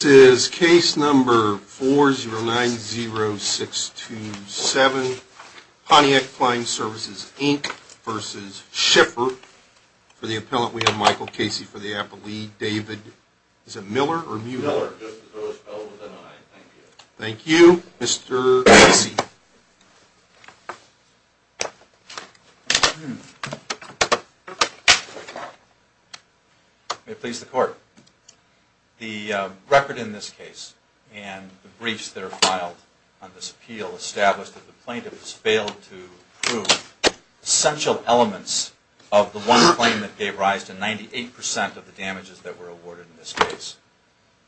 This is case number 4090627, Pontiac Flying Services, Inc. v. Schiffer. For the appellant, we have Michael Casey for the appellee. David... Is it Miller or Mueller? Miller. Thank you. Mr. Casey. May it please the Court. The record in this case and the briefs that are filed on this appeal establish that the plaintiff has failed to prove essential elements of the one claim that gave rise to 98 percent of the damages that were awarded in this case.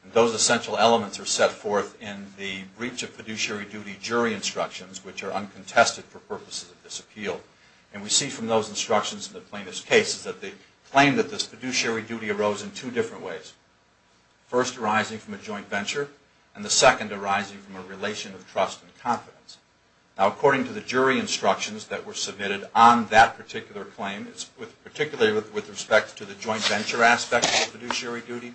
And those essential elements are set forth in the breach of fiduciary duty jury instructions, which are uncontested for purposes of this appeal. And we see from those instructions in the plaintiff's case that the claim that this fiduciary duty arose in two different ways. First, arising from a joint venture, and the second arising from a relation of trust and confidence. Now, according to the jury instructions that were submitted on that particular claim, particularly with respect to the joint venture aspect of the fiduciary duty,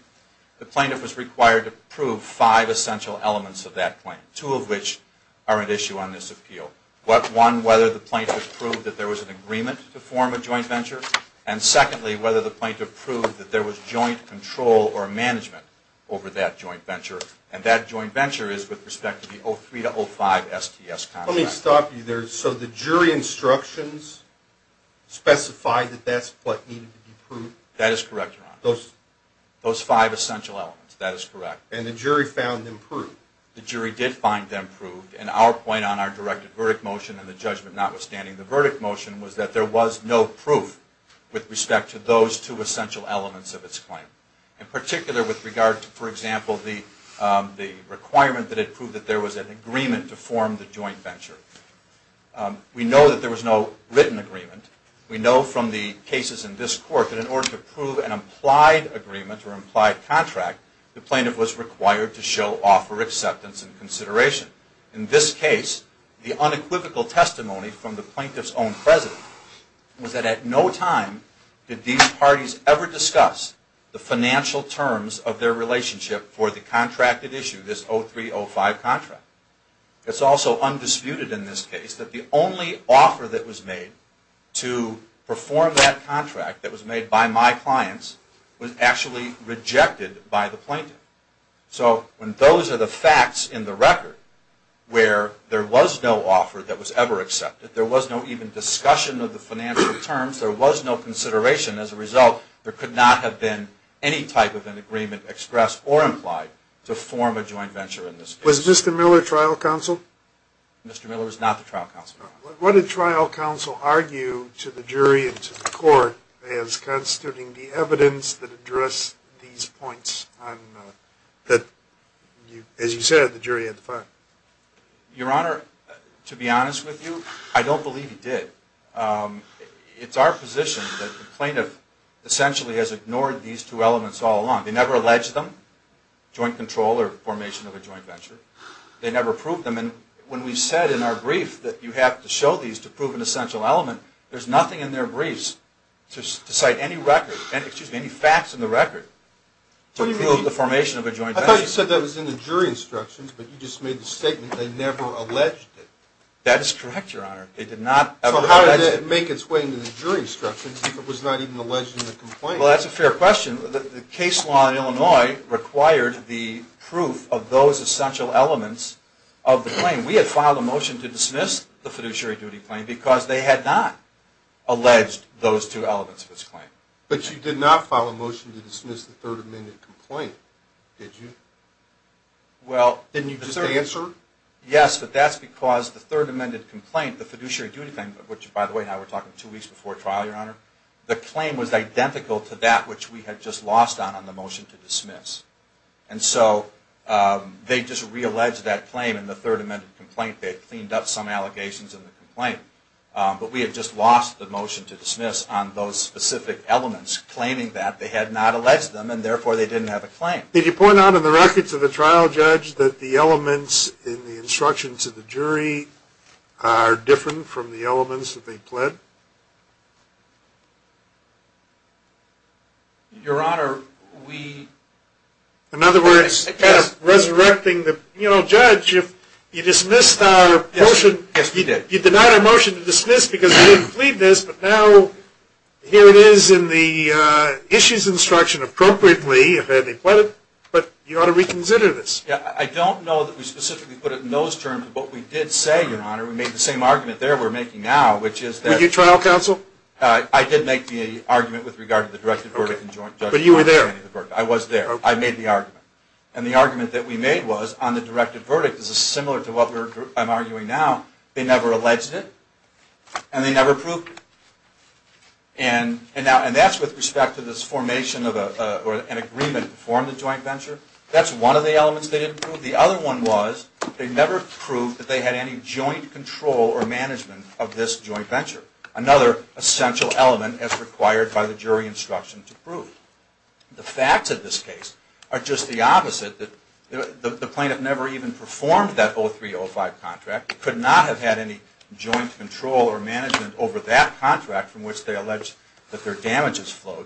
the plaintiff was required to prove five essential elements of that claim, two of which are at issue on this appeal. One, whether the plaintiff proved that there was an agreement to form a joint venture. And secondly, whether the plaintiff proved that there was joint control or management over that joint venture. And that joint venture is with respect to the 03-05 STS contract. Let me stop you there. So the jury instructions specify that that's what needed to be proved? That is correct, Your Honor. Those five essential elements, that is correct. And the jury found them proved? The jury did find them proved. And our point on our directed verdict motion and the judgment notwithstanding, the verdict motion was that there was no proof with respect to those two essential elements of its claim. In particular, with regard to, for example, the requirement that it proved that there was an agreement to form the joint venture. We know that there was no written agreement. We know from the cases in this Court that in order to prove an implied agreement or implied contract, the plaintiff was required to show offer acceptance and consideration. In this case, the unequivocal testimony from the plaintiff's own president was that at no time did these parties ever discuss the financial terms of their relationship for the contracted issue, this 03-05 contract. It's also undisputed in this case that the only offer that was made to perform that contract, that was made by my clients, was actually rejected by the plaintiff. So when those are the facts in the record, where there was no offer that was ever accepted, there was no even discussion of the financial terms, there was no consideration as a result, there could not have been any type of an agreement expressed or implied to form a joint venture in this case. Was Mr. Miller trial counsel? Mr. Miller was not the trial counsel. What did trial counsel argue to the jury and to the court as constituting the evidence that addressed these points that, as you said, the jury had to find? Your Honor, to be honest with you, I don't believe he did. It's our position that the plaintiff essentially has ignored these two elements all along. They never alleged them, joint control or formation of a joint venture. They never proved them. And when we said in our brief that you have to show these to prove an essential element, there's nothing in their briefs to cite any record, excuse me, any facts in the record to prove the formation of a joint venture. I thought you said that was in the jury instructions, but you just made the statement they never alleged it. That is correct, Your Honor. They did not ever allege it. So how did it make its way into the jury instructions if it was not even alleged in the complaint? Well, that's a fair question. The case law in Illinois required the proof of those essential elements of the claim. We had filed a motion to dismiss the fiduciary duty claim because they had not alleged those two elements of its claim. But you did not file a motion to dismiss the Third Amendment complaint, did you? Well, didn't you just answer? Yes, but that's because the Third Amendment complaint, the fiduciary duty claim, which, by the way, now we're talking two weeks before trial, Your Honor, the claim was identical to that which we had just lost on the motion to dismiss. And so they just realleged that claim in the Third Amendment complaint. They cleaned up some allegations in the complaint. But we had just lost the motion to dismiss on those specific elements claiming that they had not alleged them and therefore they didn't have a claim. Do you think, Judge, that the elements in the instructions of the jury are different from the elements that they pled? Your Honor, we – In other words, kind of resurrecting the – you know, Judge, if you dismissed our motion – Yes, yes, we did. You denied our motion to dismiss because we didn't plead this, but now here it is in the issues instruction appropriately if they had pleaded, but you ought to reconsider this. I don't know that we specifically put it in those terms, but we did say, Your Honor, we made the same argument there we're making now, which is that – Were you trial counsel? I did make the argument with regard to the directed verdict in joint – But you were there. I was there. I made the argument. And the argument that we made was on the directed verdict is similar to what I'm arguing now. They never alleged it and they never proved it. And that's with respect to this formation of an agreement to form the joint venture. That's one of the elements they didn't prove. The other one was they never proved that they had any joint control or management of this joint venture, another essential element as required by the jury instruction to prove. The facts of this case are just the opposite. The plaintiff never even performed that 0305 contract, could not have had any joint control or management over that contract from which they alleged that their damages flowed.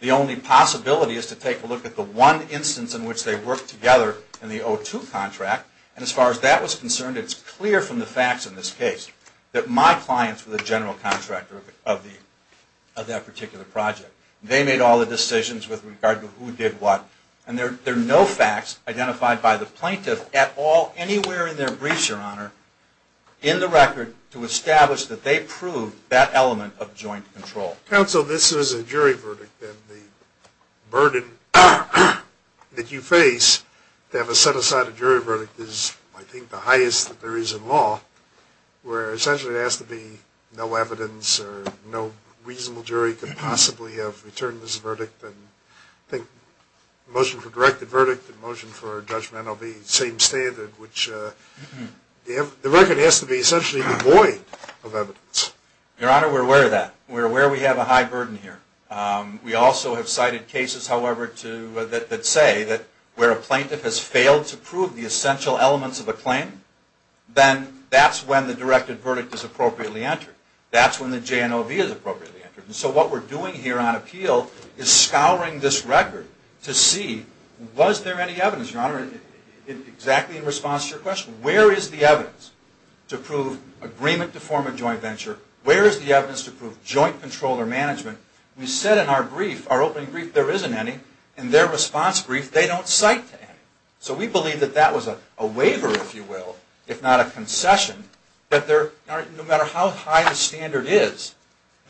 The only possibility is to take a look at the one instance in which they worked together in the 02 contract. And as far as that was concerned, it's clear from the facts in this case that my clients were the general contractor of that particular project. They made all the decisions with regard to who did what. And there are no facts identified by the plaintiff at all anywhere in their briefs, Your Honor, in the record to establish that they proved that element of joint control. Counsel, this is a jury verdict, and the burden that you face to have a set-aside jury verdict is, I think, the highest that there is in law, where essentially it has to be no evidence or no reasonable jury could possibly have returned this verdict. I think the motion for directed verdict and the motion for judgment will be the same standard, which the record has to be essentially void of evidence. Your Honor, we're aware of that. We're aware we have a high burden here. We also have cited cases, however, that say that where a plaintiff has failed to prove the essential elements of a claim, then that's when the directed verdict is appropriately entered. That's when the JNOV is appropriately entered. And so what we're doing here on appeal is scouring this record to see was there any evidence, Your Honor, exactly in response to your question. Where is the evidence to prove agreement to form a joint venture? Where is the evidence to prove joint control or management? We said in our brief, our opening brief, there isn't any. In their response brief, they don't cite any. So we believe that that was a waiver, if you will, if not a concession, that no matter how high the standard is,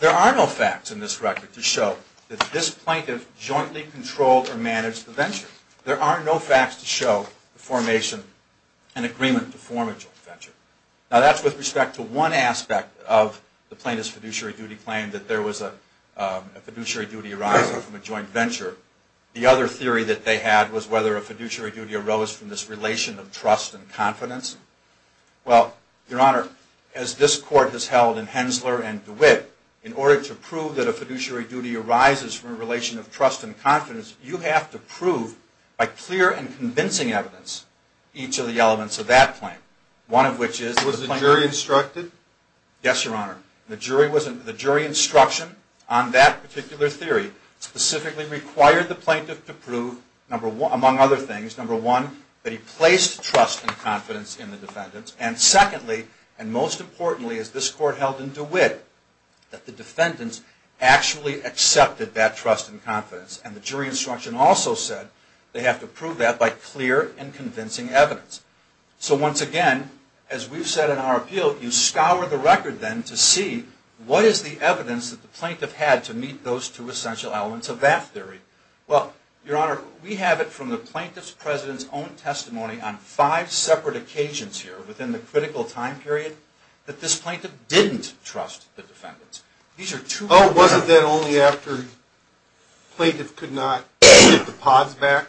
there are no facts in this record to show that this plaintiff jointly controlled or managed the venture. There are no facts to show the formation and agreement to form a joint venture. Now that's with respect to one aspect of the plaintiff's fiduciary duty claim, that there was a fiduciary duty arising from a joint venture. The other theory that they had was whether a fiduciary duty arose from this relation of trust and confidence. Well, Your Honor, as this Court has held in Hensler and DeWitt, in order to prove that a fiduciary duty arises from a relation of trust and confidence, you have to prove by clear and convincing evidence each of the elements of that claim. One of which is... Was the jury instructed? Yes, Your Honor. The jury instruction on that particular theory specifically required the plaintiff to prove, among other things, number one, that he placed trust and confidence in the defendants, and secondly, and most importantly, as this Court held in DeWitt, that the defendants actually accepted that trust and confidence. And the jury instruction also said they have to prove that by clear and convincing evidence. So once again, as we've said in our appeal, you scour the record then to see what is the evidence that the plaintiff had to meet those two essential elements of that theory. Well, Your Honor, we have it from the plaintiff's president's own testimony on five separate occasions here within the critical time period that this plaintiff didn't trust the defendants. Oh, wasn't that only after the plaintiff could not get the pods back?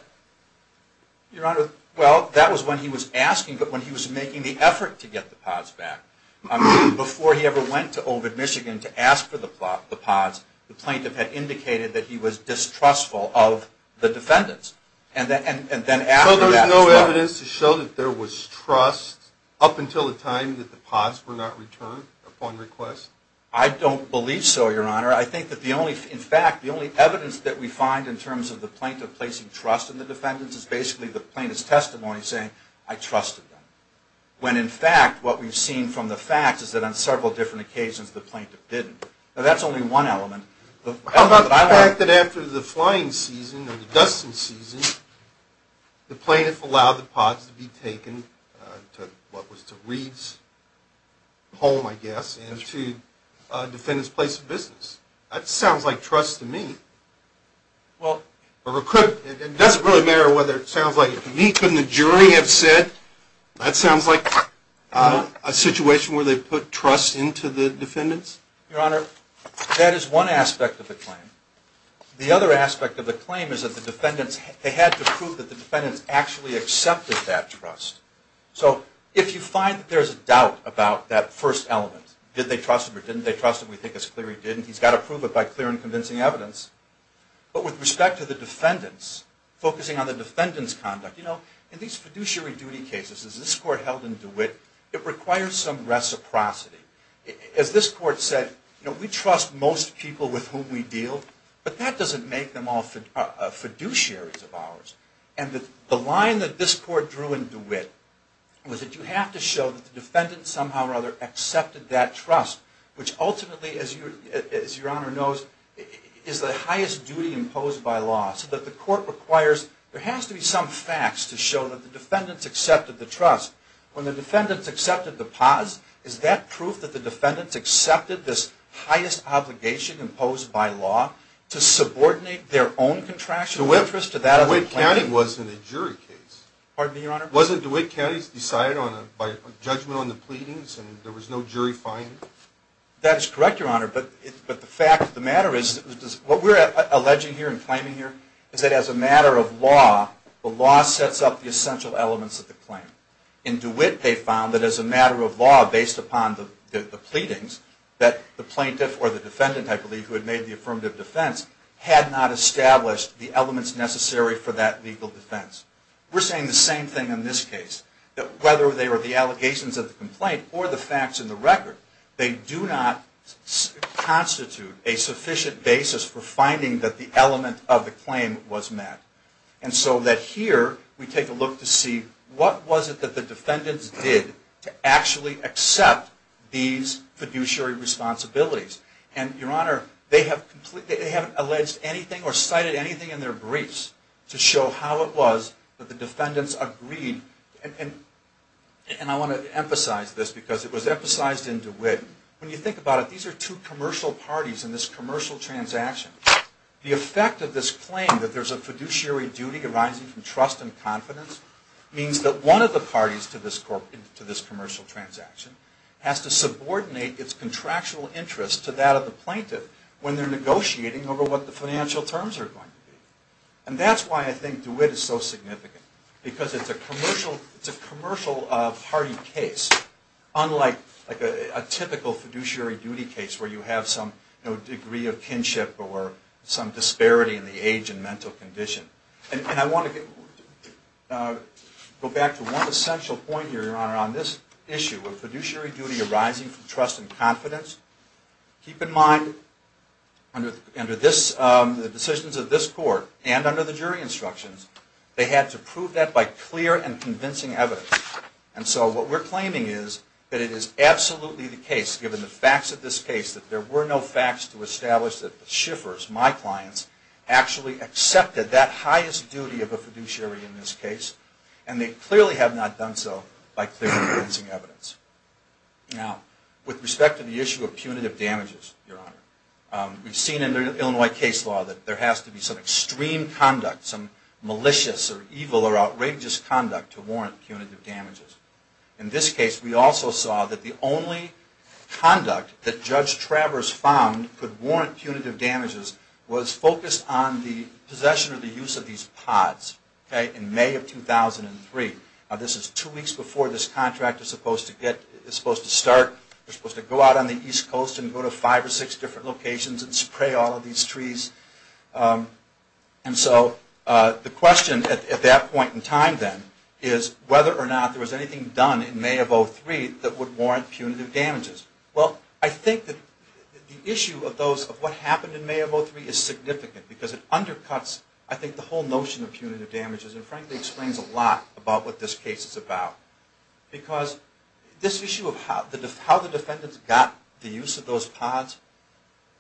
Your Honor, well, that was when he was asking, but when he was making the effort to get the pods back. Before he ever went to Ovid, Michigan to ask for the pods, the plaintiff had indicated that he was distrustful of the defendants. So there's no evidence to show that there was trust up until the time that the pods were not returned upon request? I don't believe so, Your Honor. In fact, the only evidence that we find in terms of the plaintiff placing trust in the defendants is basically the plaintiff's testimony saying, I trusted them. When in fact, what we've seen from the facts is that on several different occasions the plaintiff didn't. Now, that's only one element. How about the fact that after the flying season or the dusting season, the plaintiff allowed the pods to be taken to what was to Reed's home, I guess, into the defendant's place of business? That sounds like trust to me. It doesn't really matter whether it sounds like it to me. Couldn't the jury have said that sounds like a situation where they put trust into the defendants? Your Honor, that is one aspect of the claim. The other aspect of the claim is that the defendants, they had to prove that the defendants actually accepted that trust. So if you find that there's a doubt about that first element, did they trust him or didn't they trust him, we think it's clear he didn't, he's got to prove it by clear and convincing evidence. But with respect to the defendants, focusing on the defendant's conduct, you know, in these fiduciary duty cases, as this Court held in DeWitt, it requires some reciprocity. As this Court said, we trust most people with whom we deal, but that doesn't make them all fiduciaries of ours. And the line that this Court drew in DeWitt was that you have to show that the defendants somehow or other accepted that trust, which ultimately, as Your Honor knows, is the highest duty imposed by law, so that the Court requires, there has to be some facts to show that the defendants accepted the trust. When the defendants accepted the pause, is that proof that the defendants accepted this highest obligation imposed by law to subordinate their own contractual interest to that of the plaintiff? DeWitt County wasn't a jury case. Pardon me, Your Honor? Wasn't DeWitt County decided by judgment on the pleadings and there was no jury finding? That is correct, Your Honor, but the fact of the matter is, what we're alleging here and claiming here is that as a matter of law, the law sets up the essential elements of the claim. In DeWitt, they found that as a matter of law, based upon the pleadings, that the plaintiff or the defendant, I believe, who had made the affirmative defense, had not established the elements necessary for that legal defense. We're saying the same thing in this case. That whether they were the allegations of the complaint or the facts in the record, they do not constitute a sufficient basis for finding that the element of the claim was met. And so that here, we take a look to see what was it that the defendants did to actually accept these fiduciary responsibilities. And, Your Honor, they haven't alleged anything or cited anything in their briefs to show how it was that the defendants agreed. And I want to emphasize this because it was emphasized in DeWitt. When you think about it, these are two commercial parties in this commercial transaction. The effect of this claim, that there's a fiduciary duty arising from trust and confidence, means that one of the parties to this commercial transaction has to subordinate its contractual interest to that of the plaintiff when they're negotiating over what the financial terms are going to be. And that's why I think DeWitt is so significant. Because it's a commercial of hardy case, unlike a typical fiduciary duty case where you have some degree of kinship or some disparity in the age and mental condition. And I want to go back to one essential point here, Your Honor, on this issue of fiduciary duty arising from trust and confidence. Keep in mind, under the decisions of this Court and under the jury instructions, they had to prove that by clear and convincing evidence. And so what we're claiming is that it is absolutely the case, given the facts of this case, that there were no facts to establish that the Schiffers, my clients, actually accepted that highest duty of a fiduciary in this case. And they clearly have not done so by clear and convincing evidence. Now, with respect to the issue of punitive damages, Your Honor, we've seen in the Illinois case law that there has to be some extreme conduct, some malicious or evil or outrageous conduct to warrant punitive damages. In this case, we also saw that the only conduct that Judge Travers found could warrant punitive damages was focused on the possession or the use of these pods. Okay? In May of 2003. Now, this is two weeks before this contract is supposed to start. They're supposed to go out on the East Coast and go to five or six different locations and spray all of these trees. And so the question at that point in time, then, is whether or not there was anything done in May of 2003 that would warrant punitive damages. Well, I think that the issue of what happened in May of 2003 is significant because it undercuts, I think, the whole notion of punitive damages and frankly explains a lot about what this case is about. Because this issue of how the defendants got the use of those pods,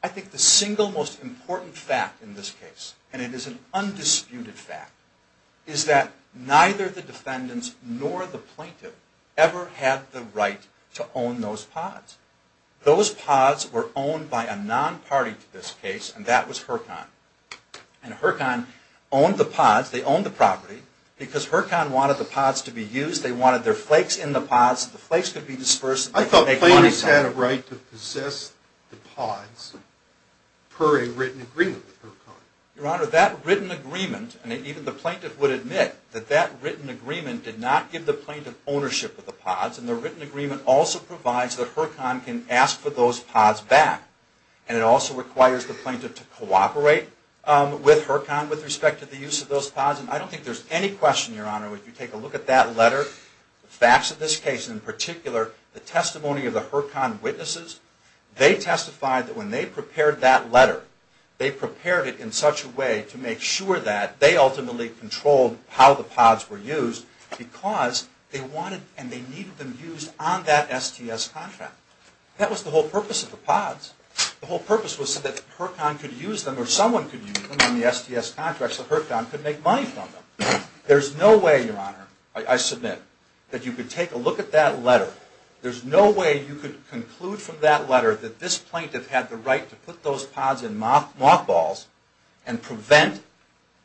I think the single most important fact in this case, and it is an undisputed fact, is that neither the defendants nor the plaintiff ever had the right to own those pods. Those pods were owned by a non-party to this case, and that was Hurcon. And Hurcon owned the pods. They owned the property. Because Hurcon wanted the pods to be used, they wanted their flakes in the pods, the flakes could be dispersed. I thought plaintiffs had a right to possess the pods per a written agreement with Hurcon. Your Honor, that written agreement, and even the plaintiff would admit that that written agreement did not give the plaintiff ownership of the pods. And the written agreement also provides that Hurcon can ask for those pods back. And it also requires the plaintiff to cooperate with Hurcon with respect to the use of those pods. And I don't think there's any question, Your Honor, if you take a look at that letter, the facts of this case in particular, the testimony of the Hurcon witnesses, they testified that when they prepared that letter, they prepared it in such a way to make sure that they ultimately controlled how the pods were used because they wanted and they needed them used on that STS contract. That was the whole purpose of the pods. The whole purpose was so that Hurcon could use them or someone could use them on the STS contract so Hurcon could make money from them. There's no way, Your Honor, I submit, that you could take a look at that letter. There's no way you could conclude from that letter that this plaintiff had the right to put those pods in mothballs and prevent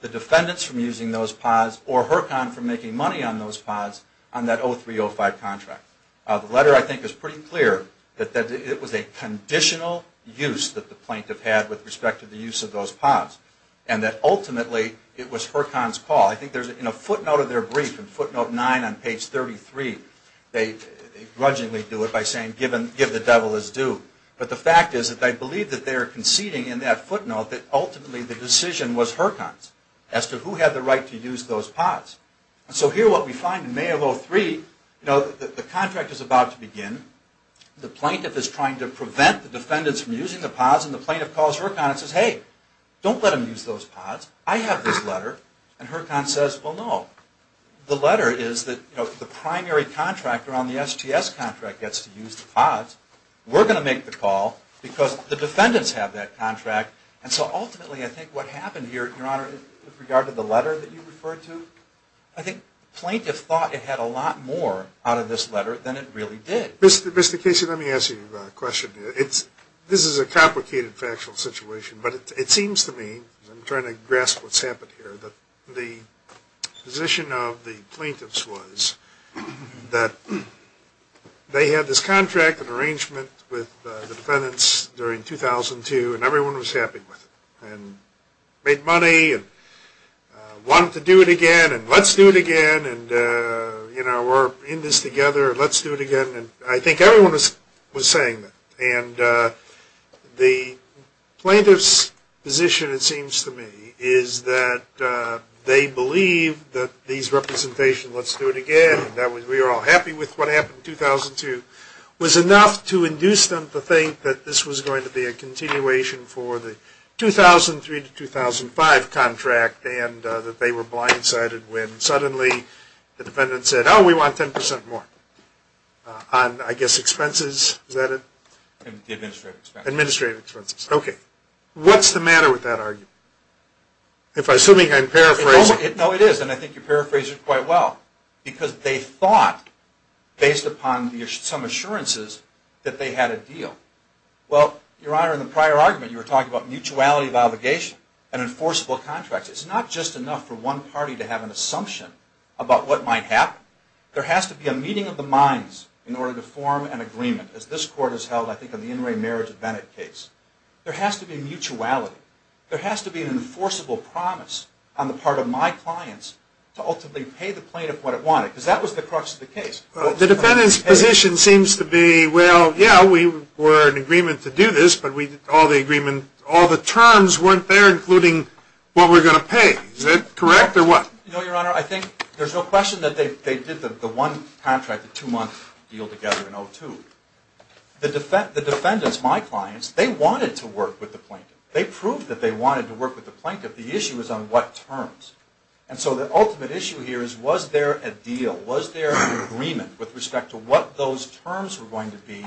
the defendants from using those pods or Hurcon from making money on those pods on that 0305 contract. The letter, I think, is pretty clear that it was a conditional use that the plaintiff had with respect to the use of those pods and that ultimately it was Hurcon's call. I think in a footnote of their brief, in footnote 9 on page 33, they grudgingly do it by saying give the devil his due. But the fact is that they believe that they are conceding in that footnote that ultimately the decision was Hurcon's as to who had the right to use those pods. So here what we find in May of 03, the contract is about to begin. The plaintiff is trying to prevent the defendants from using the pods and the plaintiff calls Hurcon and says, hey, don't let them use those pods. I have this letter. And Hurcon says, well, no. The letter is that the primary contractor on the STS contract gets to use the pods. We're going to make the call because the defendants have that contract and so ultimately I think what happened here, Your Honor, with regard to the letter that you referred to, I think the plaintiff thought it had a lot more out of this letter than it really did. Mr. Casey, let me ask you a question. This is a complicated factual situation, but it seems to me, because I'm trying to grasp what's happened here, that the position of the plaintiffs was that they had this contract, an arrangement with the defendants during 2002 and everyone was happy with it and made money and wanted to do it again and let's do it again and we're in this together and let's do it again. I think everyone was saying that. And the plaintiff's position, it seems to me, is that they believe that these representations, let's do it again, we were all happy with what happened in 2002, was enough to induce them to think that this was going to be a continuation for the 2003 to 2005 contract and that they were blindsided when suddenly the defendants said, oh, we want 10% more on, I guess, expenses. Is that it? Administrative expenses. Administrative expenses. Okay. What's the matter with that argument? If I'm assuming I'm paraphrasing. No, it is, and I think you paraphrased it quite well because they thought, based upon some assurances, that they had a deal. Well, Your Honor, in the prior argument, you were talking about mutuality of obligation and enforceable contracts. It's not just enough for one party to have an assumption about what might happen. There has to be a meeting of the minds in order to form an agreement, as this Court has held, I think, on the In re Marriage of Bennett case. There has to be mutuality. There has to be an enforceable promise on the part of my clients to ultimately pay the plaintiff what it wanted because that was the crux of the case. The defendant's position seems to be, well, yeah, we were in agreement to do this, but all the terms weren't there, including what we're going to pay. Is that correct or what? No, Your Honor, I think there's no question that they did the one contract, the two-month deal together in 2002. The defendants, my clients, they wanted to work with the plaintiff. They proved that they wanted to work with the plaintiff. The issue was on what terms. And so the ultimate issue here is was there a deal? Was there an agreement with respect to what those terms were going to be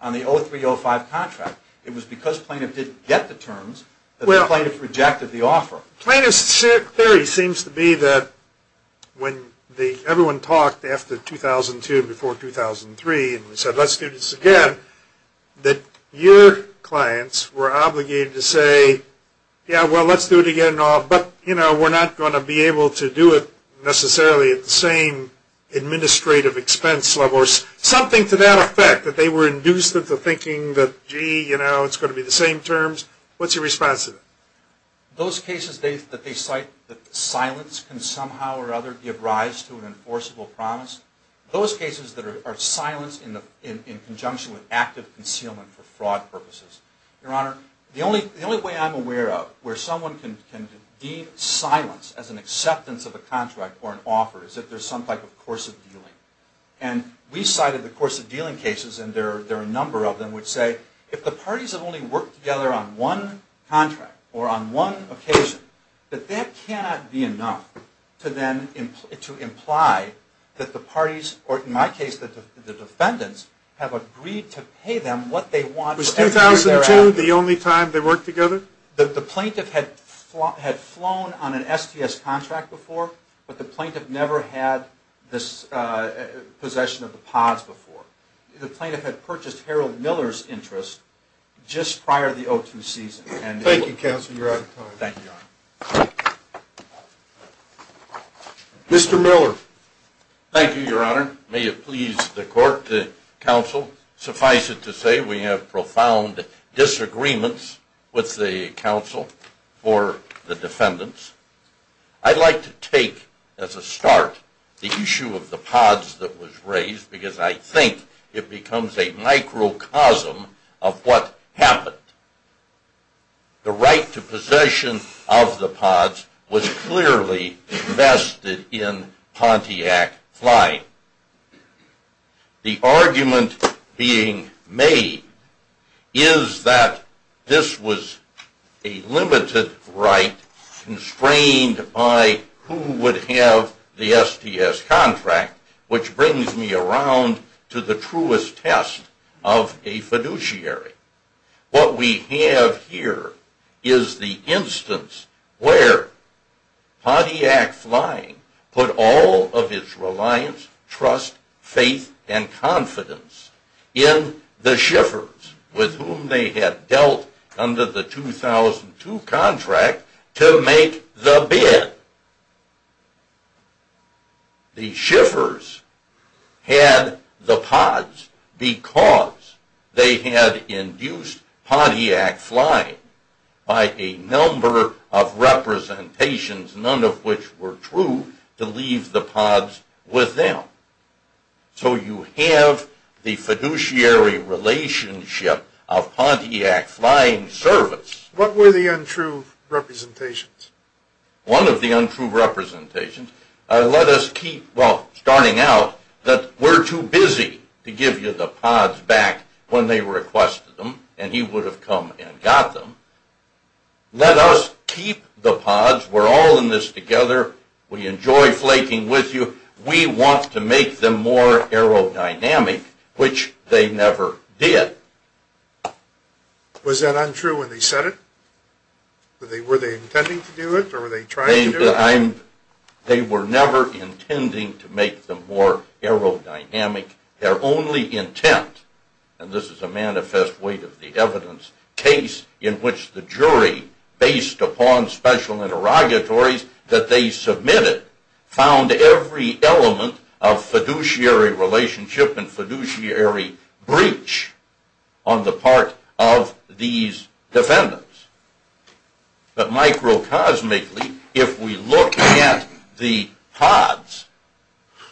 on the 03-05 contract? It was because plaintiff didn't get the terms that the plaintiff rejected the offer. Plaintiff's theory seems to be that when everyone talked after 2002 before 2003 and said let's do this again, that your clients were obligated to say, yeah, well, let's do it again and all, but we're not going to be able to do it necessarily at the same administrative expense level or something to that effect that they were induced into thinking that, gee, it's going to be the same terms. What's your response to that? Those cases that they cite that silence can somehow or other give rise to an enforceable promise, those cases that are silenced in conjunction with active concealment for fraud purposes. Your Honor, the only way I'm aware of where someone can deem silence as an acceptance of a contract or an offer is if there's some type of course of dealing. And we cited the course of dealing cases, and there are a number of them, which say if the parties have only worked together on one contract or on one occasion, that that cannot be enough to imply that the parties, or in my case, the defendants, have agreed to pay them what they want. Was 2002 the only time they worked together? The plaintiff had flown on an STS contract before, but the plaintiff never had possession of the pods before. The plaintiff had purchased Harold Miller's interest just prior to the 02 season. Thank you, counsel. You're out of time. Thank you, Your Honor. Mr. Miller. Thank you, Your Honor. May it please the court, the counsel, suffice it to say, we have profound disagreements with the counsel for the defendants. I'd like to take as a start the issue of the pods that was raised because I think it becomes a microcosm of what happened. The right to possession of the pods was clearly vested in Pontiac Flying. The argument being made is that this was a limited right constrained by who would have the STS contract, which brings me around to the truest test of a fiduciary. What we have here is the instance where Pontiac Flying put all of its reliance, trust, faith, and confidence in the Schiffers, with whom they had dealt under the 2002 contract to make the bid. The Schiffers had the pods because they had induced Pontiac Flying by a number of representations, none of which were true, to leave the pods with them. So you have the fiduciary relationship of Pontiac Flying's service. What were the untrue representations? One of the untrue representations, let us keep, well, starting out, that we're too busy to give you the pods back when they requested them, and he would have come and got them. Let us keep the pods. We're all in this together. We enjoy flaking with you. We want to make them more aerodynamic, which they never did. Was that untrue when they said it? Were they intending to do it, or were they trying to do it? They were never intending to make them more aerodynamic. Their only intent, and this is a manifest weight of the evidence, case in which the jury, based upon special interrogatories that they submitted, found every element of fiduciary relationship and fiduciary breach on the part of these defendants. But microcosmically, if we look at the pods,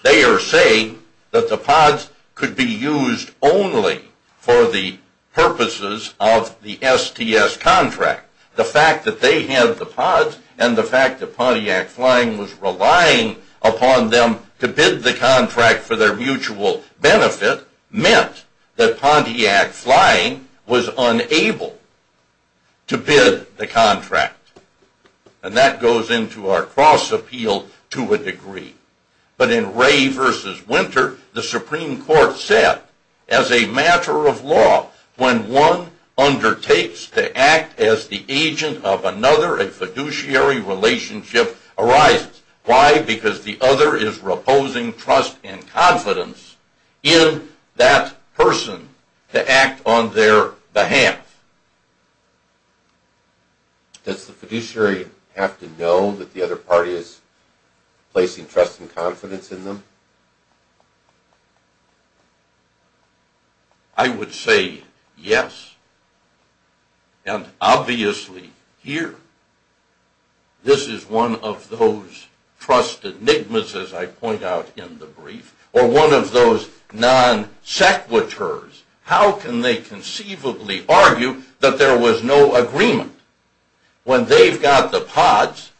they are saying that the pods could be used only for the purposes of the STS contract. The fact that they had the pods and the fact that Pontiac Flying was relying upon them to bid the contract for their mutual benefit meant that Pontiac Flying was unable to bid the contract. And that goes into our cross-appeal to a degree. But in Ray v. Winter, the Supreme Court said, as a matter of law, when one undertakes to act as the agent of another, a fiduciary relationship arises. Why? Because the other is reposing trust and confidence in that person to act on their behalf. Does the fiduciary have to know that the other party is placing trust and confidence in them? I would say yes, and obviously here. This is one of those trust enigmas, as I point out in the brief, or one of those non sequiturs. How can they conceivably argue that there was no agreement when they've got the pods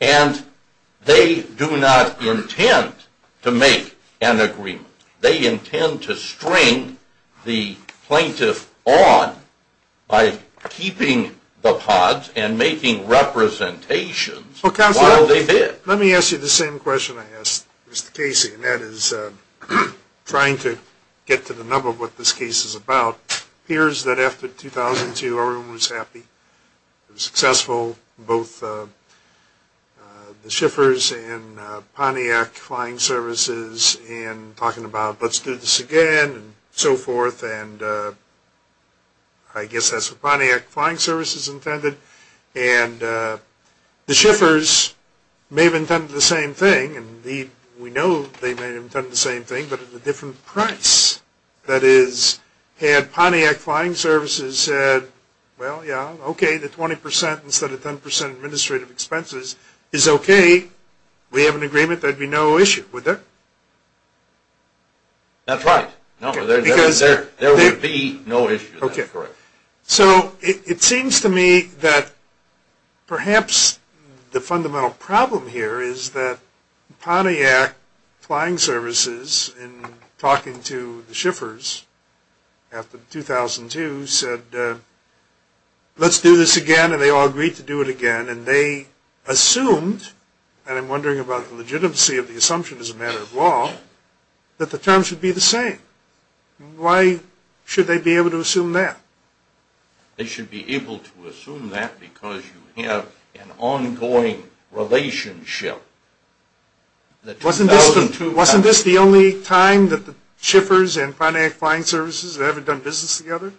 and they do not intend to make an agreement? They intend to string the plaintiff on by keeping the pods and making representations while they bid. Let me ask you the same question I asked Mr. Casey, and that is trying to get to the nub of what this case is about. It appears that after 2002, everyone was happy. It was successful, both the Schiffers and Pontiac Flying Services in talking about, let's do this again and so forth, and I guess that's what Pontiac Flying Services intended. And the Schiffers may have intended the same thing, and we know they may have intended the same thing, but at a different price. That is, had Pontiac Flying Services said, well, yeah, okay, the 20% instead of 10% administrative expenses is okay. We have an agreement. There would be no issue. Would there? That's right. There would be no issue. That's correct. So it seems to me that perhaps the fundamental problem here is that Pontiac Flying Services, in talking to the Schiffers after 2002, said, let's do this again, and they all agreed to do it again, and they assumed, and I'm wondering about the legitimacy of the assumption as a matter of law, that the terms should be the same. Why should they be able to assume that? They should be able to assume that because you have an ongoing relationship. Wasn't this the only time that the Schiffers and Pontiac Flying Services had ever done business together?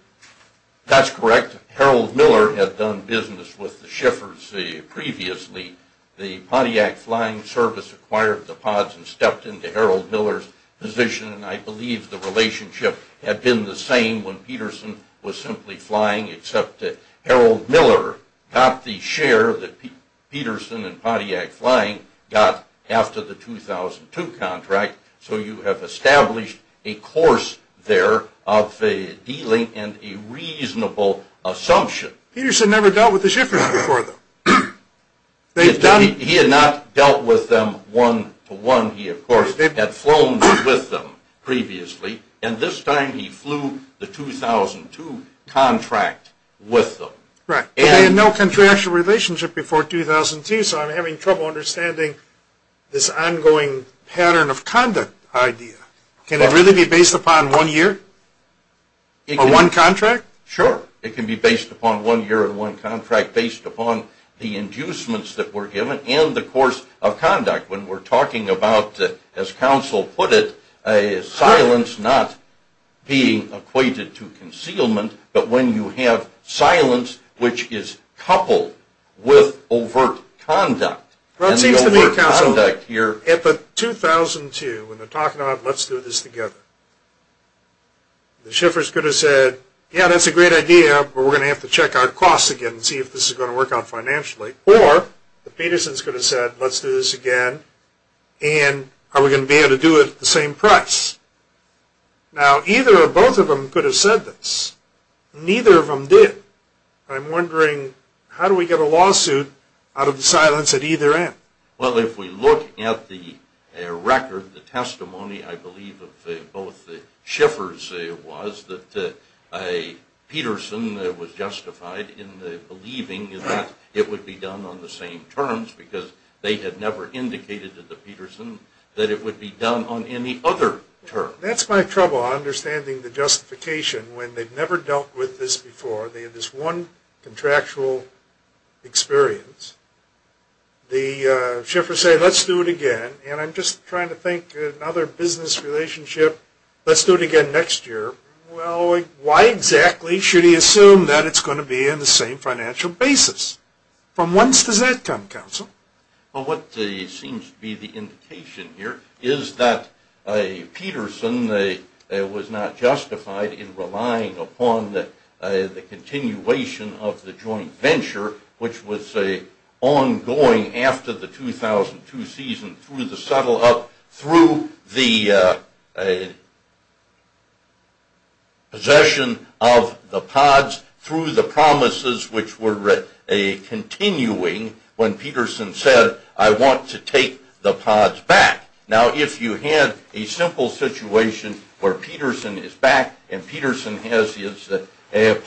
That's correct. Harold Miller had done business with the Schiffers previously. The Pontiac Flying Service acquired the pods and stepped into Harold Miller's position, and I believe the relationship had been the same when Peterson was simply flying, except that Harold Miller got the share that Peterson and Pontiac Flying got after the 2002 contract, so you have established a course there of dealing and a reasonable assumption. Peterson never dealt with the Schiffers before, though. Peterson, of course, had flown with them previously, and this time he flew the 2002 contract with them. They had no contractual relationship before 2002, so I'm having trouble understanding this ongoing pattern of conduct idea. Can it really be based upon one year or one contract? Sure. It can be based upon one year and one contract, based upon the inducements that were given and the course of conduct when we're talking about, as counsel put it, silence not being equated to concealment, but when you have silence which is coupled with overt conduct. Well, it seems to me, counsel, at the 2002, when they're talking about let's do this together, the Schiffers could have said, yeah, that's a great idea, but we're going to have to check our costs again and see if this is going to work out financially, or the Petersons could have said, let's do this again, and are we going to be able to do it at the same price? Now, either or both of them could have said this. Neither of them did. I'm wondering, how do we get a lawsuit out of the silence at either end? Well, if we look at the record, the testimony, I believe, of both the Schiffers was that Peterson was justified in believing that it would be done on the same terms because they had never indicated to the Petersons that it would be done on any other terms. That's my trouble, understanding the justification when they've never dealt with this before. They had this one contractual experience. The Schiffers say, let's do it again, and I'm just trying to think of another business relationship. Let's do it again next year. Well, why exactly should he assume that it's going to be on the same financial basis? From whence does that come, counsel? Well, what seems to be the indication here is that Peterson was not justified in relying upon the continuation of the joint venture, which was ongoing after the 2002 season through the settle-up, through the possession of the pods, through the promises which were continuing when Peterson said, I want to take the pods back. Now, if you had a simple situation where Peterson is back and Peterson has his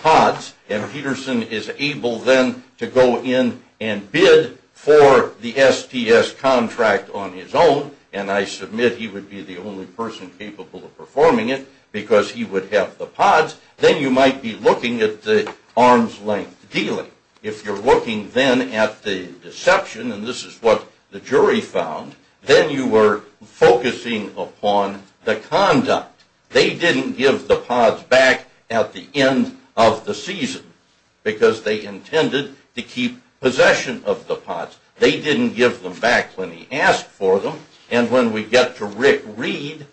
pods, and Peterson is able then to go in and bid for the STS contract on his own, and I submit he would be the only person capable of performing it because he would have the pods, then you might be looking at the arm's-length dealing. If you're looking then at the deception, and this is what the jury found, then you were focusing upon the conduct. They didn't give the pods back at the end of the season because they intended to keep possession of the pods. They didn't give them back when he asked for them, and when we get to Rick Reed,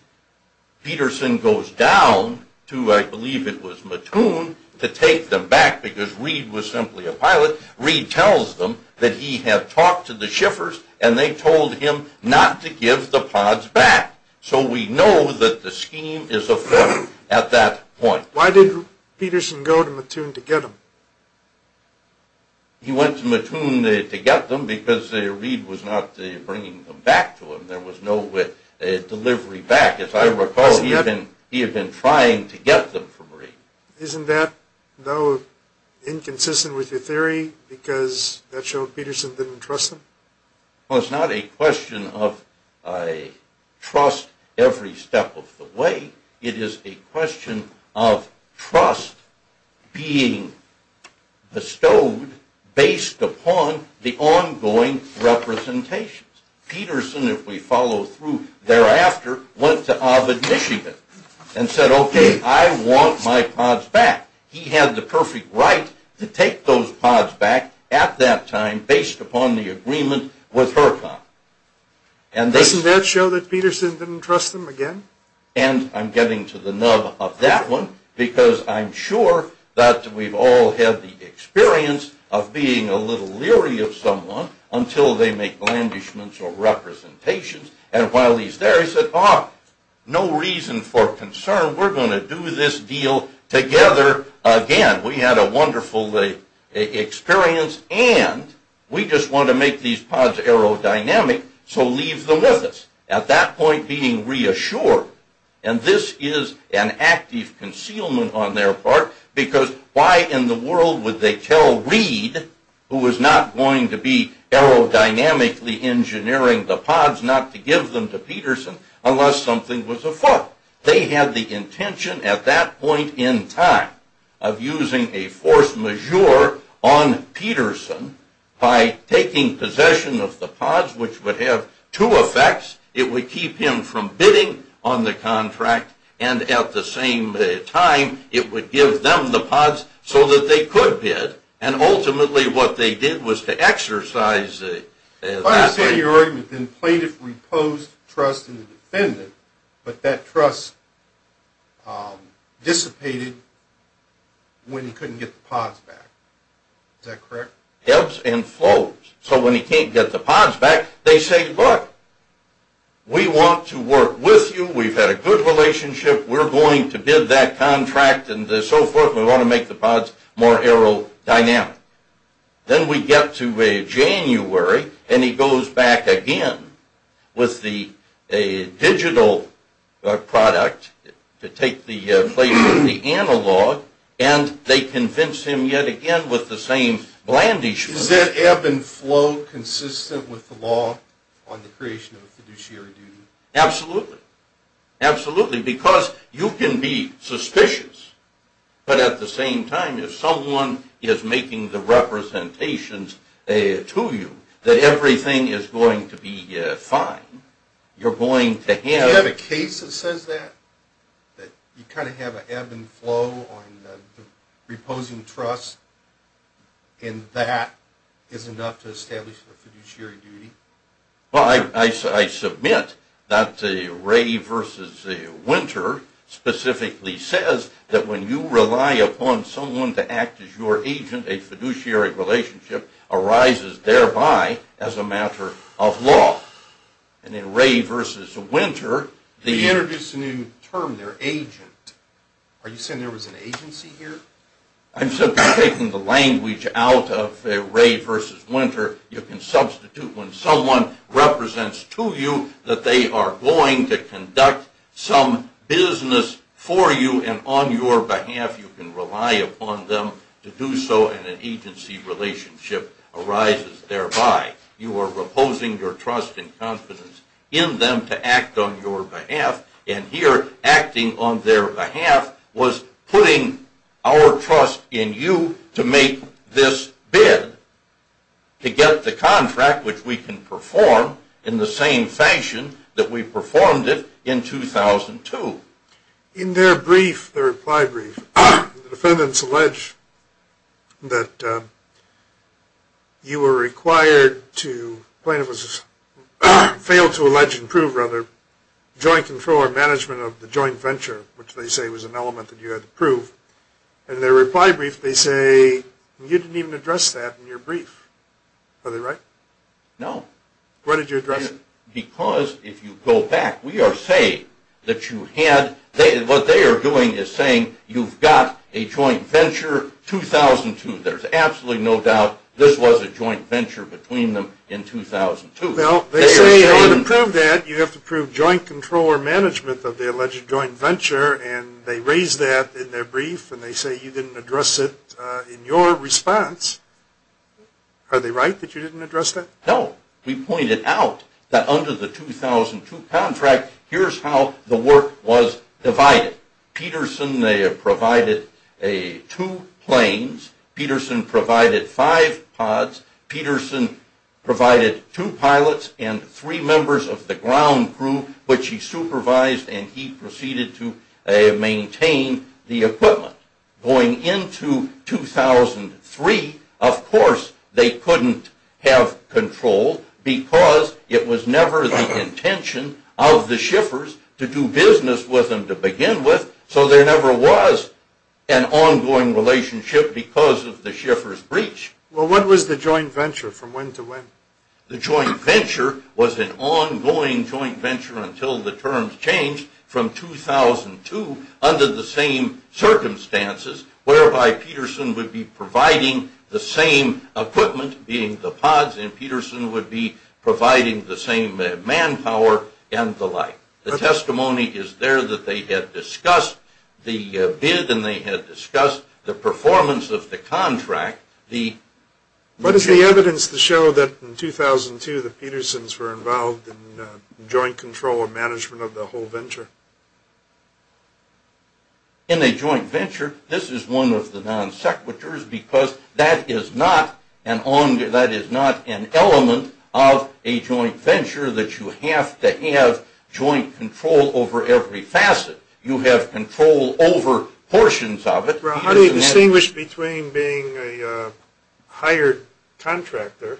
Peterson goes down to, I believe it was Mattoon, to take them back because Reed was simply a pilot. Reed tells them that he had talked to the shiffers and they told him not to give the pods back. So we know that the scheme is afoot at that point. Why did Peterson go to Mattoon to get them? He went to Mattoon to get them because Reed was not bringing them back to him. There was no delivery back. As I recall, he had been trying to get them from Reed. Isn't that, though, inconsistent with your theory because that showed Peterson didn't trust him? Well, it's not a question of trust every step of the way. It is a question of trust being bestowed based upon the ongoing representations. Peterson, if we follow through thereafter, went to Ovid, Michigan and said, okay, I want my pods back. He had the perfect right to take those pods back at that time based upon the agreement with Hercon. Doesn't that show that Peterson didn't trust them again? And I'm getting to the nub of that one because I'm sure that we've all had the experience of being a little leery of someone until they make blandishments or representations. And while he's there, he said, ah, no reason for concern. We're going to do this deal together again. We had a wonderful experience and we just want to make these pods aerodynamic, so leave them with us. At that point, being reassured. And this is an active concealment on their part because why in the world would they tell Reed, who was not going to be aerodynamically engineering the pods, not to give them to Peterson unless something was afoot? They had the intention at that point in time of using a force majeure on Peterson by taking possession of the pods, which would have two effects. It would keep him from bidding on the contract and at the same time it would give them the pods so that they could bid and ultimately what they did was to exercise that. If I understand your argument, then plaintiff reposed trust in the defendant, but that trust dissipated when he couldn't get the pods back. Is that correct? Ebbs and flows. So when he can't get the pods back, they say, look, we want to work with you. We've had a good relationship. We're going to bid that contract and so forth. We want to make the pods more aerodynamic. Then we get to January and he goes back again with the digital product to take the place of the analog and they convince him yet again with the same blandishment. Is that ebb and flow consistent with the law on the creation of a fiduciary duty? Absolutely. Because you can be suspicious, but at the same time if someone is making the representations to you that everything is going to be fine, you're going to have... Do you have a case that says that? That you kind of have an ebb and flow on the reposing trust and that is enough to establish a fiduciary duty? Well, I submit that Ray versus Winter specifically says that when you rely upon someone to act as your agent, a fiduciary relationship arises thereby as a matter of law. And in Ray versus Winter... You introduced a new term there, agent. Are you saying there was an agency here? I'm simply taking the language out of Ray versus Winter. You can substitute when someone represents to you that they are going to conduct some business for you and on your behalf you can rely upon them to do so and an agency relationship arises thereby. You are reposing your trust and confidence in them to act on your behalf and here acting on their behalf was putting our trust in you to make this bid to get the contract which we can perform in the same fashion that we performed it in 2002. In their brief, their reply brief, the defendants allege that you were required to... The plaintiff failed to allege and prove rather joint control or management of the joint venture which they say was an element that you had to prove. In their reply brief they say you didn't even address that in your brief. Are they right? No. Why did you address it? Because if you go back, we are saying that you had... What they are doing is saying you've got a joint venture 2002. There is absolutely no doubt this was a joint venture between them in 2002. Well, they say in order to prove that you have to prove joint control or management of the alleged joint venture and they raise that in their brief and they say you didn't address it in your response. Are they right that you didn't address that? No. We pointed out that under the 2002 contract here is how the work was divided. Peterson provided two planes. Peterson provided five pods. Peterson provided two pilots and three members of the ground crew which he supervised and he proceeded to maintain the equipment. Going into 2003, of course, they couldn't have control because it was never the intention of the Schiffers to do business with them to begin with so there never was an ongoing relationship because of the Schiffer's breach. Well, what was the joint venture from when to when? The joint venture was an ongoing joint venture until the terms changed from 2002 under the same circumstances whereby Peterson would be providing the same equipment being the pods and Peterson would be providing the same manpower and the like. The testimony is there that they had discussed the bid and they had discussed the performance of the contract. What is the evidence to show that in 2002 the Petersons were involved in joint control or management of the whole venture? In a joint venture, this is one of the non sequiturs because that is not an element of a joint venture that you have to have joint control over every facet. You have control over portions of it. Well, how do you distinguish between being a hired contractor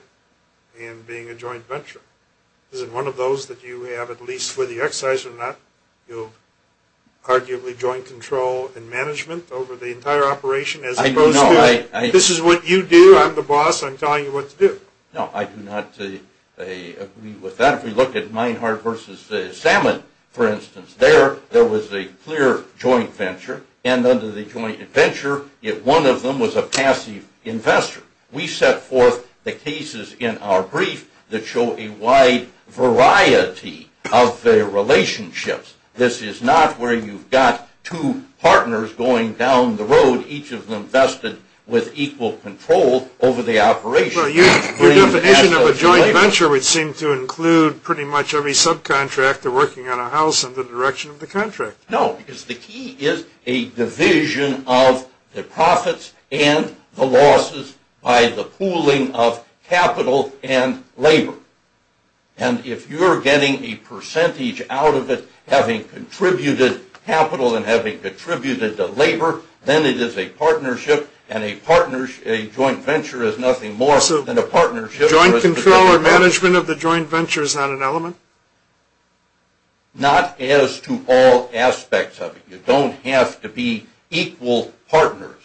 and being a joint venture? Is it one of those that you have at least whether you excise or not, you'll arguably joint control and management over the entire operation as opposed to this is what you do, I'm the boss, I'm telling you what to do? No, I do not agree with that. If we look at Meinhard versus Salmon, for instance, there was a clear joint venture and under the joint venture one of them was a passive investor. We set forth the cases in our brief that show a wide variety of their relationships. This is not where you've got two partners going down the road, each of them vested with equal control over the operation. Your definition of a joint venture would seem to include pretty much every subcontractor working on a house in the direction of the contract. No, because the key is a division of the profits and the losses by the pooling of capital and labor. And if you're getting a percentage out of it having contributed capital and having contributed the labor, then it is a partnership and a joint venture is nothing more than a partnership. Joint control or management of the joint venture is not an element? Not as to all aspects of it. You don't have to be equal partners,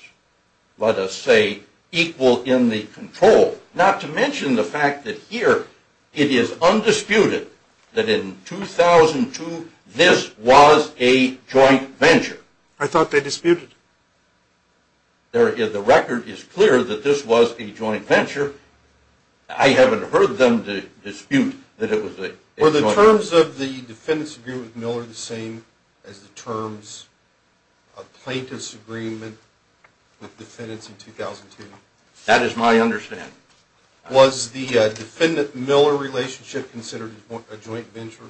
let us say equal in the control. Not to mention the fact that here it is undisputed that in 2002 this was a joint venture. I thought they disputed. The record is clear that this was a joint venture. I haven't heard them dispute that it was a joint venture. Were the terms of the defendant's agreement with Miller the same as the terms of plaintiff's agreement with defendants in 2002? That is my understanding. Was the defendant-Miller relationship considered a joint venture?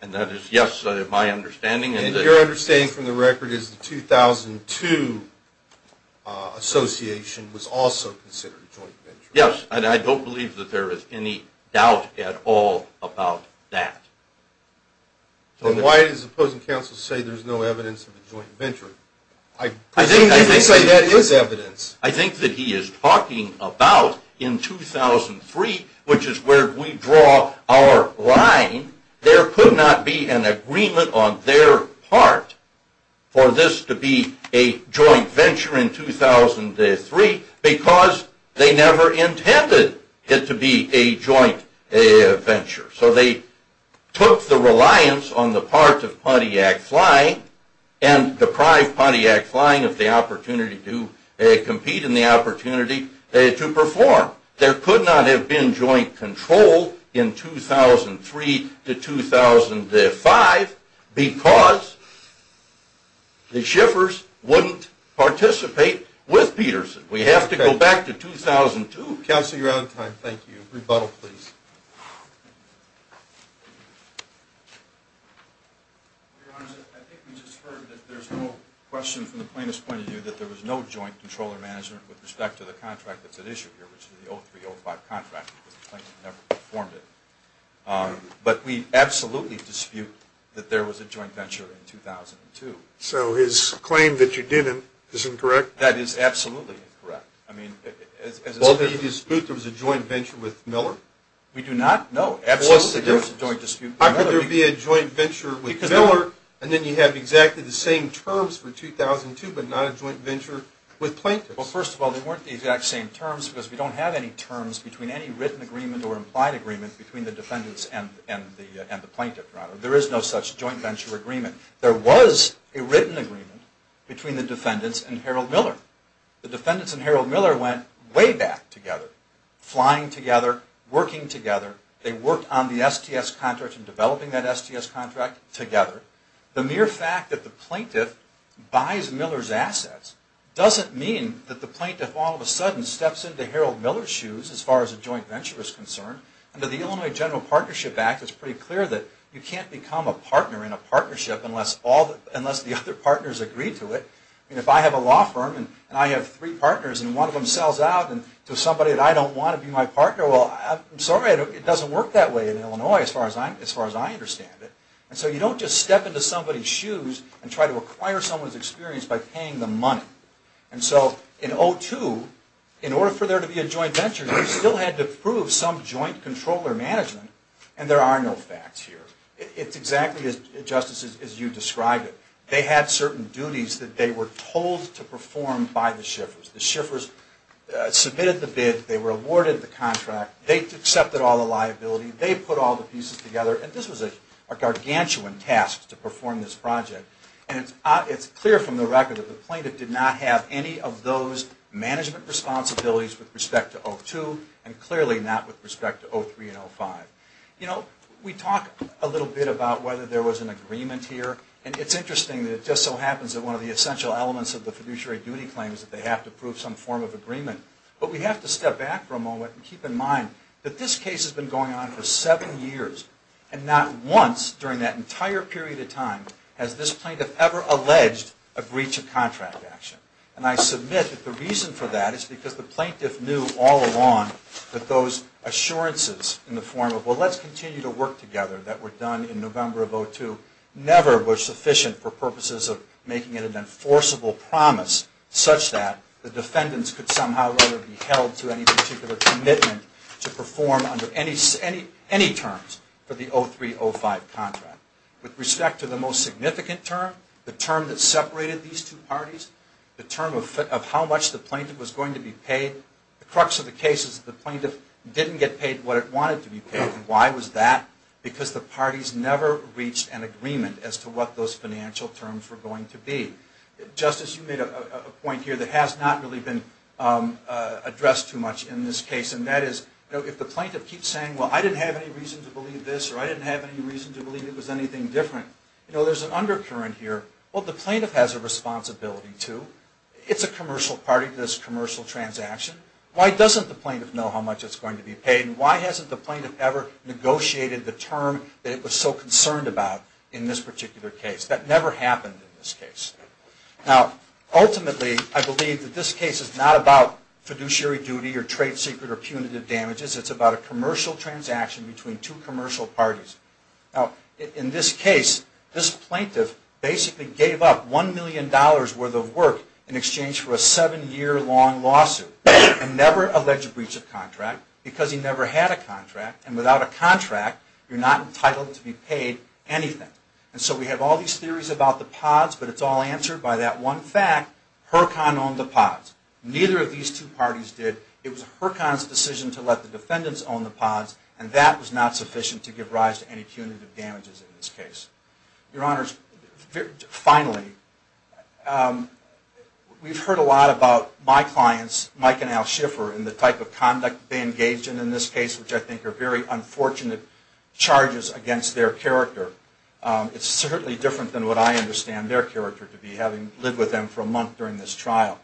And that is, yes, my understanding. And your understanding from the record is the 2002 association was also considered a joint venture? Yes, and I don't believe that there is any doubt at all about that. Then why does the opposing counsel say there is no evidence of a joint venture? I think that he is talking about in 2003, which is where we draw our line. There could not be an agreement on their part for this to be a joint venture in 2003 because they never intended it to be a joint venture. So they took the reliance on the part of Pontiac Flying and deprived Pontiac Flying of the opportunity to compete and the opportunity to perform. There could not have been joint control in 2003 to 2005 because the Schiffers wouldn't participate with Peterson. We have to go back to 2002. Counsel, you're out of time. Thank you. Rebuttal, please. Your Honor, I think we just heard that there's no question from the plaintiff's point of view that there was no joint controller-manager with respect to the contract that's at issue here, which is the 03-05 contract because the plaintiff never performed it. But we absolutely dispute that there was a joint venture in 2002. So his claim that you didn't is incorrect? That is absolutely incorrect. Well, do you dispute there was a joint venture with Miller? We do not, no. Absolutely there is a joint dispute with Miller. How could there be a joint venture with Miller and then you have exactly the same terms for 2002 but not a joint venture with plaintiffs? Well, first of all, they weren't the exact same terms because we don't have any terms between any written agreement or implied agreement between the defendants and the plaintiff, Your Honor. There is no such joint venture agreement. There was a written agreement between the defendants and Harold Miller. The defendants and Harold Miller went way back together, flying together, working together. They worked on the STS contract and developing that STS contract together. The mere fact that the plaintiff buys Miller's assets doesn't mean that the plaintiff all of a sudden steps into Harold Miller's shoes as far as a joint venture is concerned. Under the Illinois General Partnership Act, it's pretty clear that you can't become a partner in a partnership unless the other partners agree to it. If I have a law firm and I have three partners and one of them sells out to somebody that I don't want to be my partner, well, I'm sorry, it doesn't work that way in Illinois as far as I understand it. So you don't just step into somebody's shoes and try to acquire someone's experience by paying them money. In 2002, in order for there to be a joint venture, you still had to prove some joint control or management and there are no facts here. It's exactly, Justice, as you described it. They had certain duties that they were told to perform by the shiffers. The shiffers submitted the bid, they were awarded the contract, they accepted all the liability, they put all the pieces together, and this was a gargantuan task to perform this project. And it's clear from the record that the plaintiff did not have any of those management responsibilities with respect to 02 and clearly not with respect to 03 and 05. You know, we talk a little bit about whether there was an agreement here and it's interesting that it just so happens that one of the essential elements of the fiduciary duty claim is that they have to prove some form of agreement. But we have to step back for a moment and keep in mind that this case has been going on for seven years and not once during that entire period of time has this plaintiff ever alleged a breach of contract action. And I submit that the reason for that is because the plaintiff knew all along that those assurances in the form of, well, let's continue to work together, that were done in November of 02, never were sufficient for purposes of making it an enforceable promise such that the defendants could somehow or other be held to any particular commitment to perform under any terms for the 03-05 contract. With respect to the most significant term, the term that separated these two parties, the term of how much the plaintiff was going to be paid, the crux of the case is the plaintiff didn't get paid what it wanted to be paid. Why was that? Because the parties never reached an agreement as to what those financial terms were going to be. Justice, you made a point here that has not really been addressed too much in this case, and that is, you know, if the plaintiff keeps saying, well, I didn't have any reason to believe this or I didn't have any reason to believe it was anything different, you know, there's an undercurrent here. Well, the plaintiff has a responsibility too. It's a commercial party to this commercial transaction. Why doesn't the plaintiff know how much it's going to be paid and why hasn't the plaintiff ever negotiated the term that it was so concerned about in this particular case? That never happened in this case. Now, ultimately, I believe that this case is not about fiduciary duty or trade secret or punitive damages. It's about a commercial transaction between two commercial parties. Now, in this case, this plaintiff basically gave up $1 million worth of work in exchange for a seven-year-long lawsuit and never alleged breach of contract because he never had a contract, and without a contract, you're not entitled to be paid anything. And so we have all these theories about the pods, but it's all answered by that one fact, Hurcon owned the pods. Neither of these two parties did. It was Hurcon's decision to let the defendants own the pods, and that was not sufficient to give rise to any punitive damages in this case. Your Honors, finally, we've heard a lot about my clients, Mike and Al Schiffer, and the type of conduct they engaged in in this case, which I think are very unfortunate charges against their character. It's certainly different than what I understand their character to be, having lived with them for a month during this trial.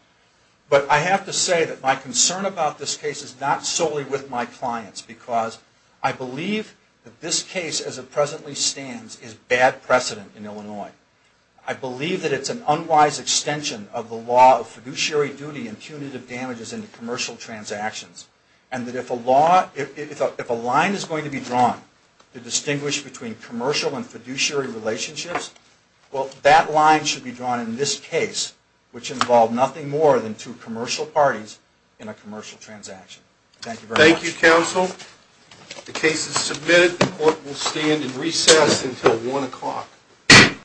But I have to say that my concern about this case is not solely with my clients because I believe that this case as it presently stands is bad precedent in Illinois. I believe that it's an unwise extension of the law of fiduciary duty and punitive damages in commercial transactions, and that if a line is going to be drawn to distinguish between commercial and fiduciary relationships, well, that line should be drawn in this case, which involved nothing more than two commercial parties in a commercial transaction. Thank you very much. Thank you, Counsel. The case is submitted. The court will stand in recess until 1 o'clock.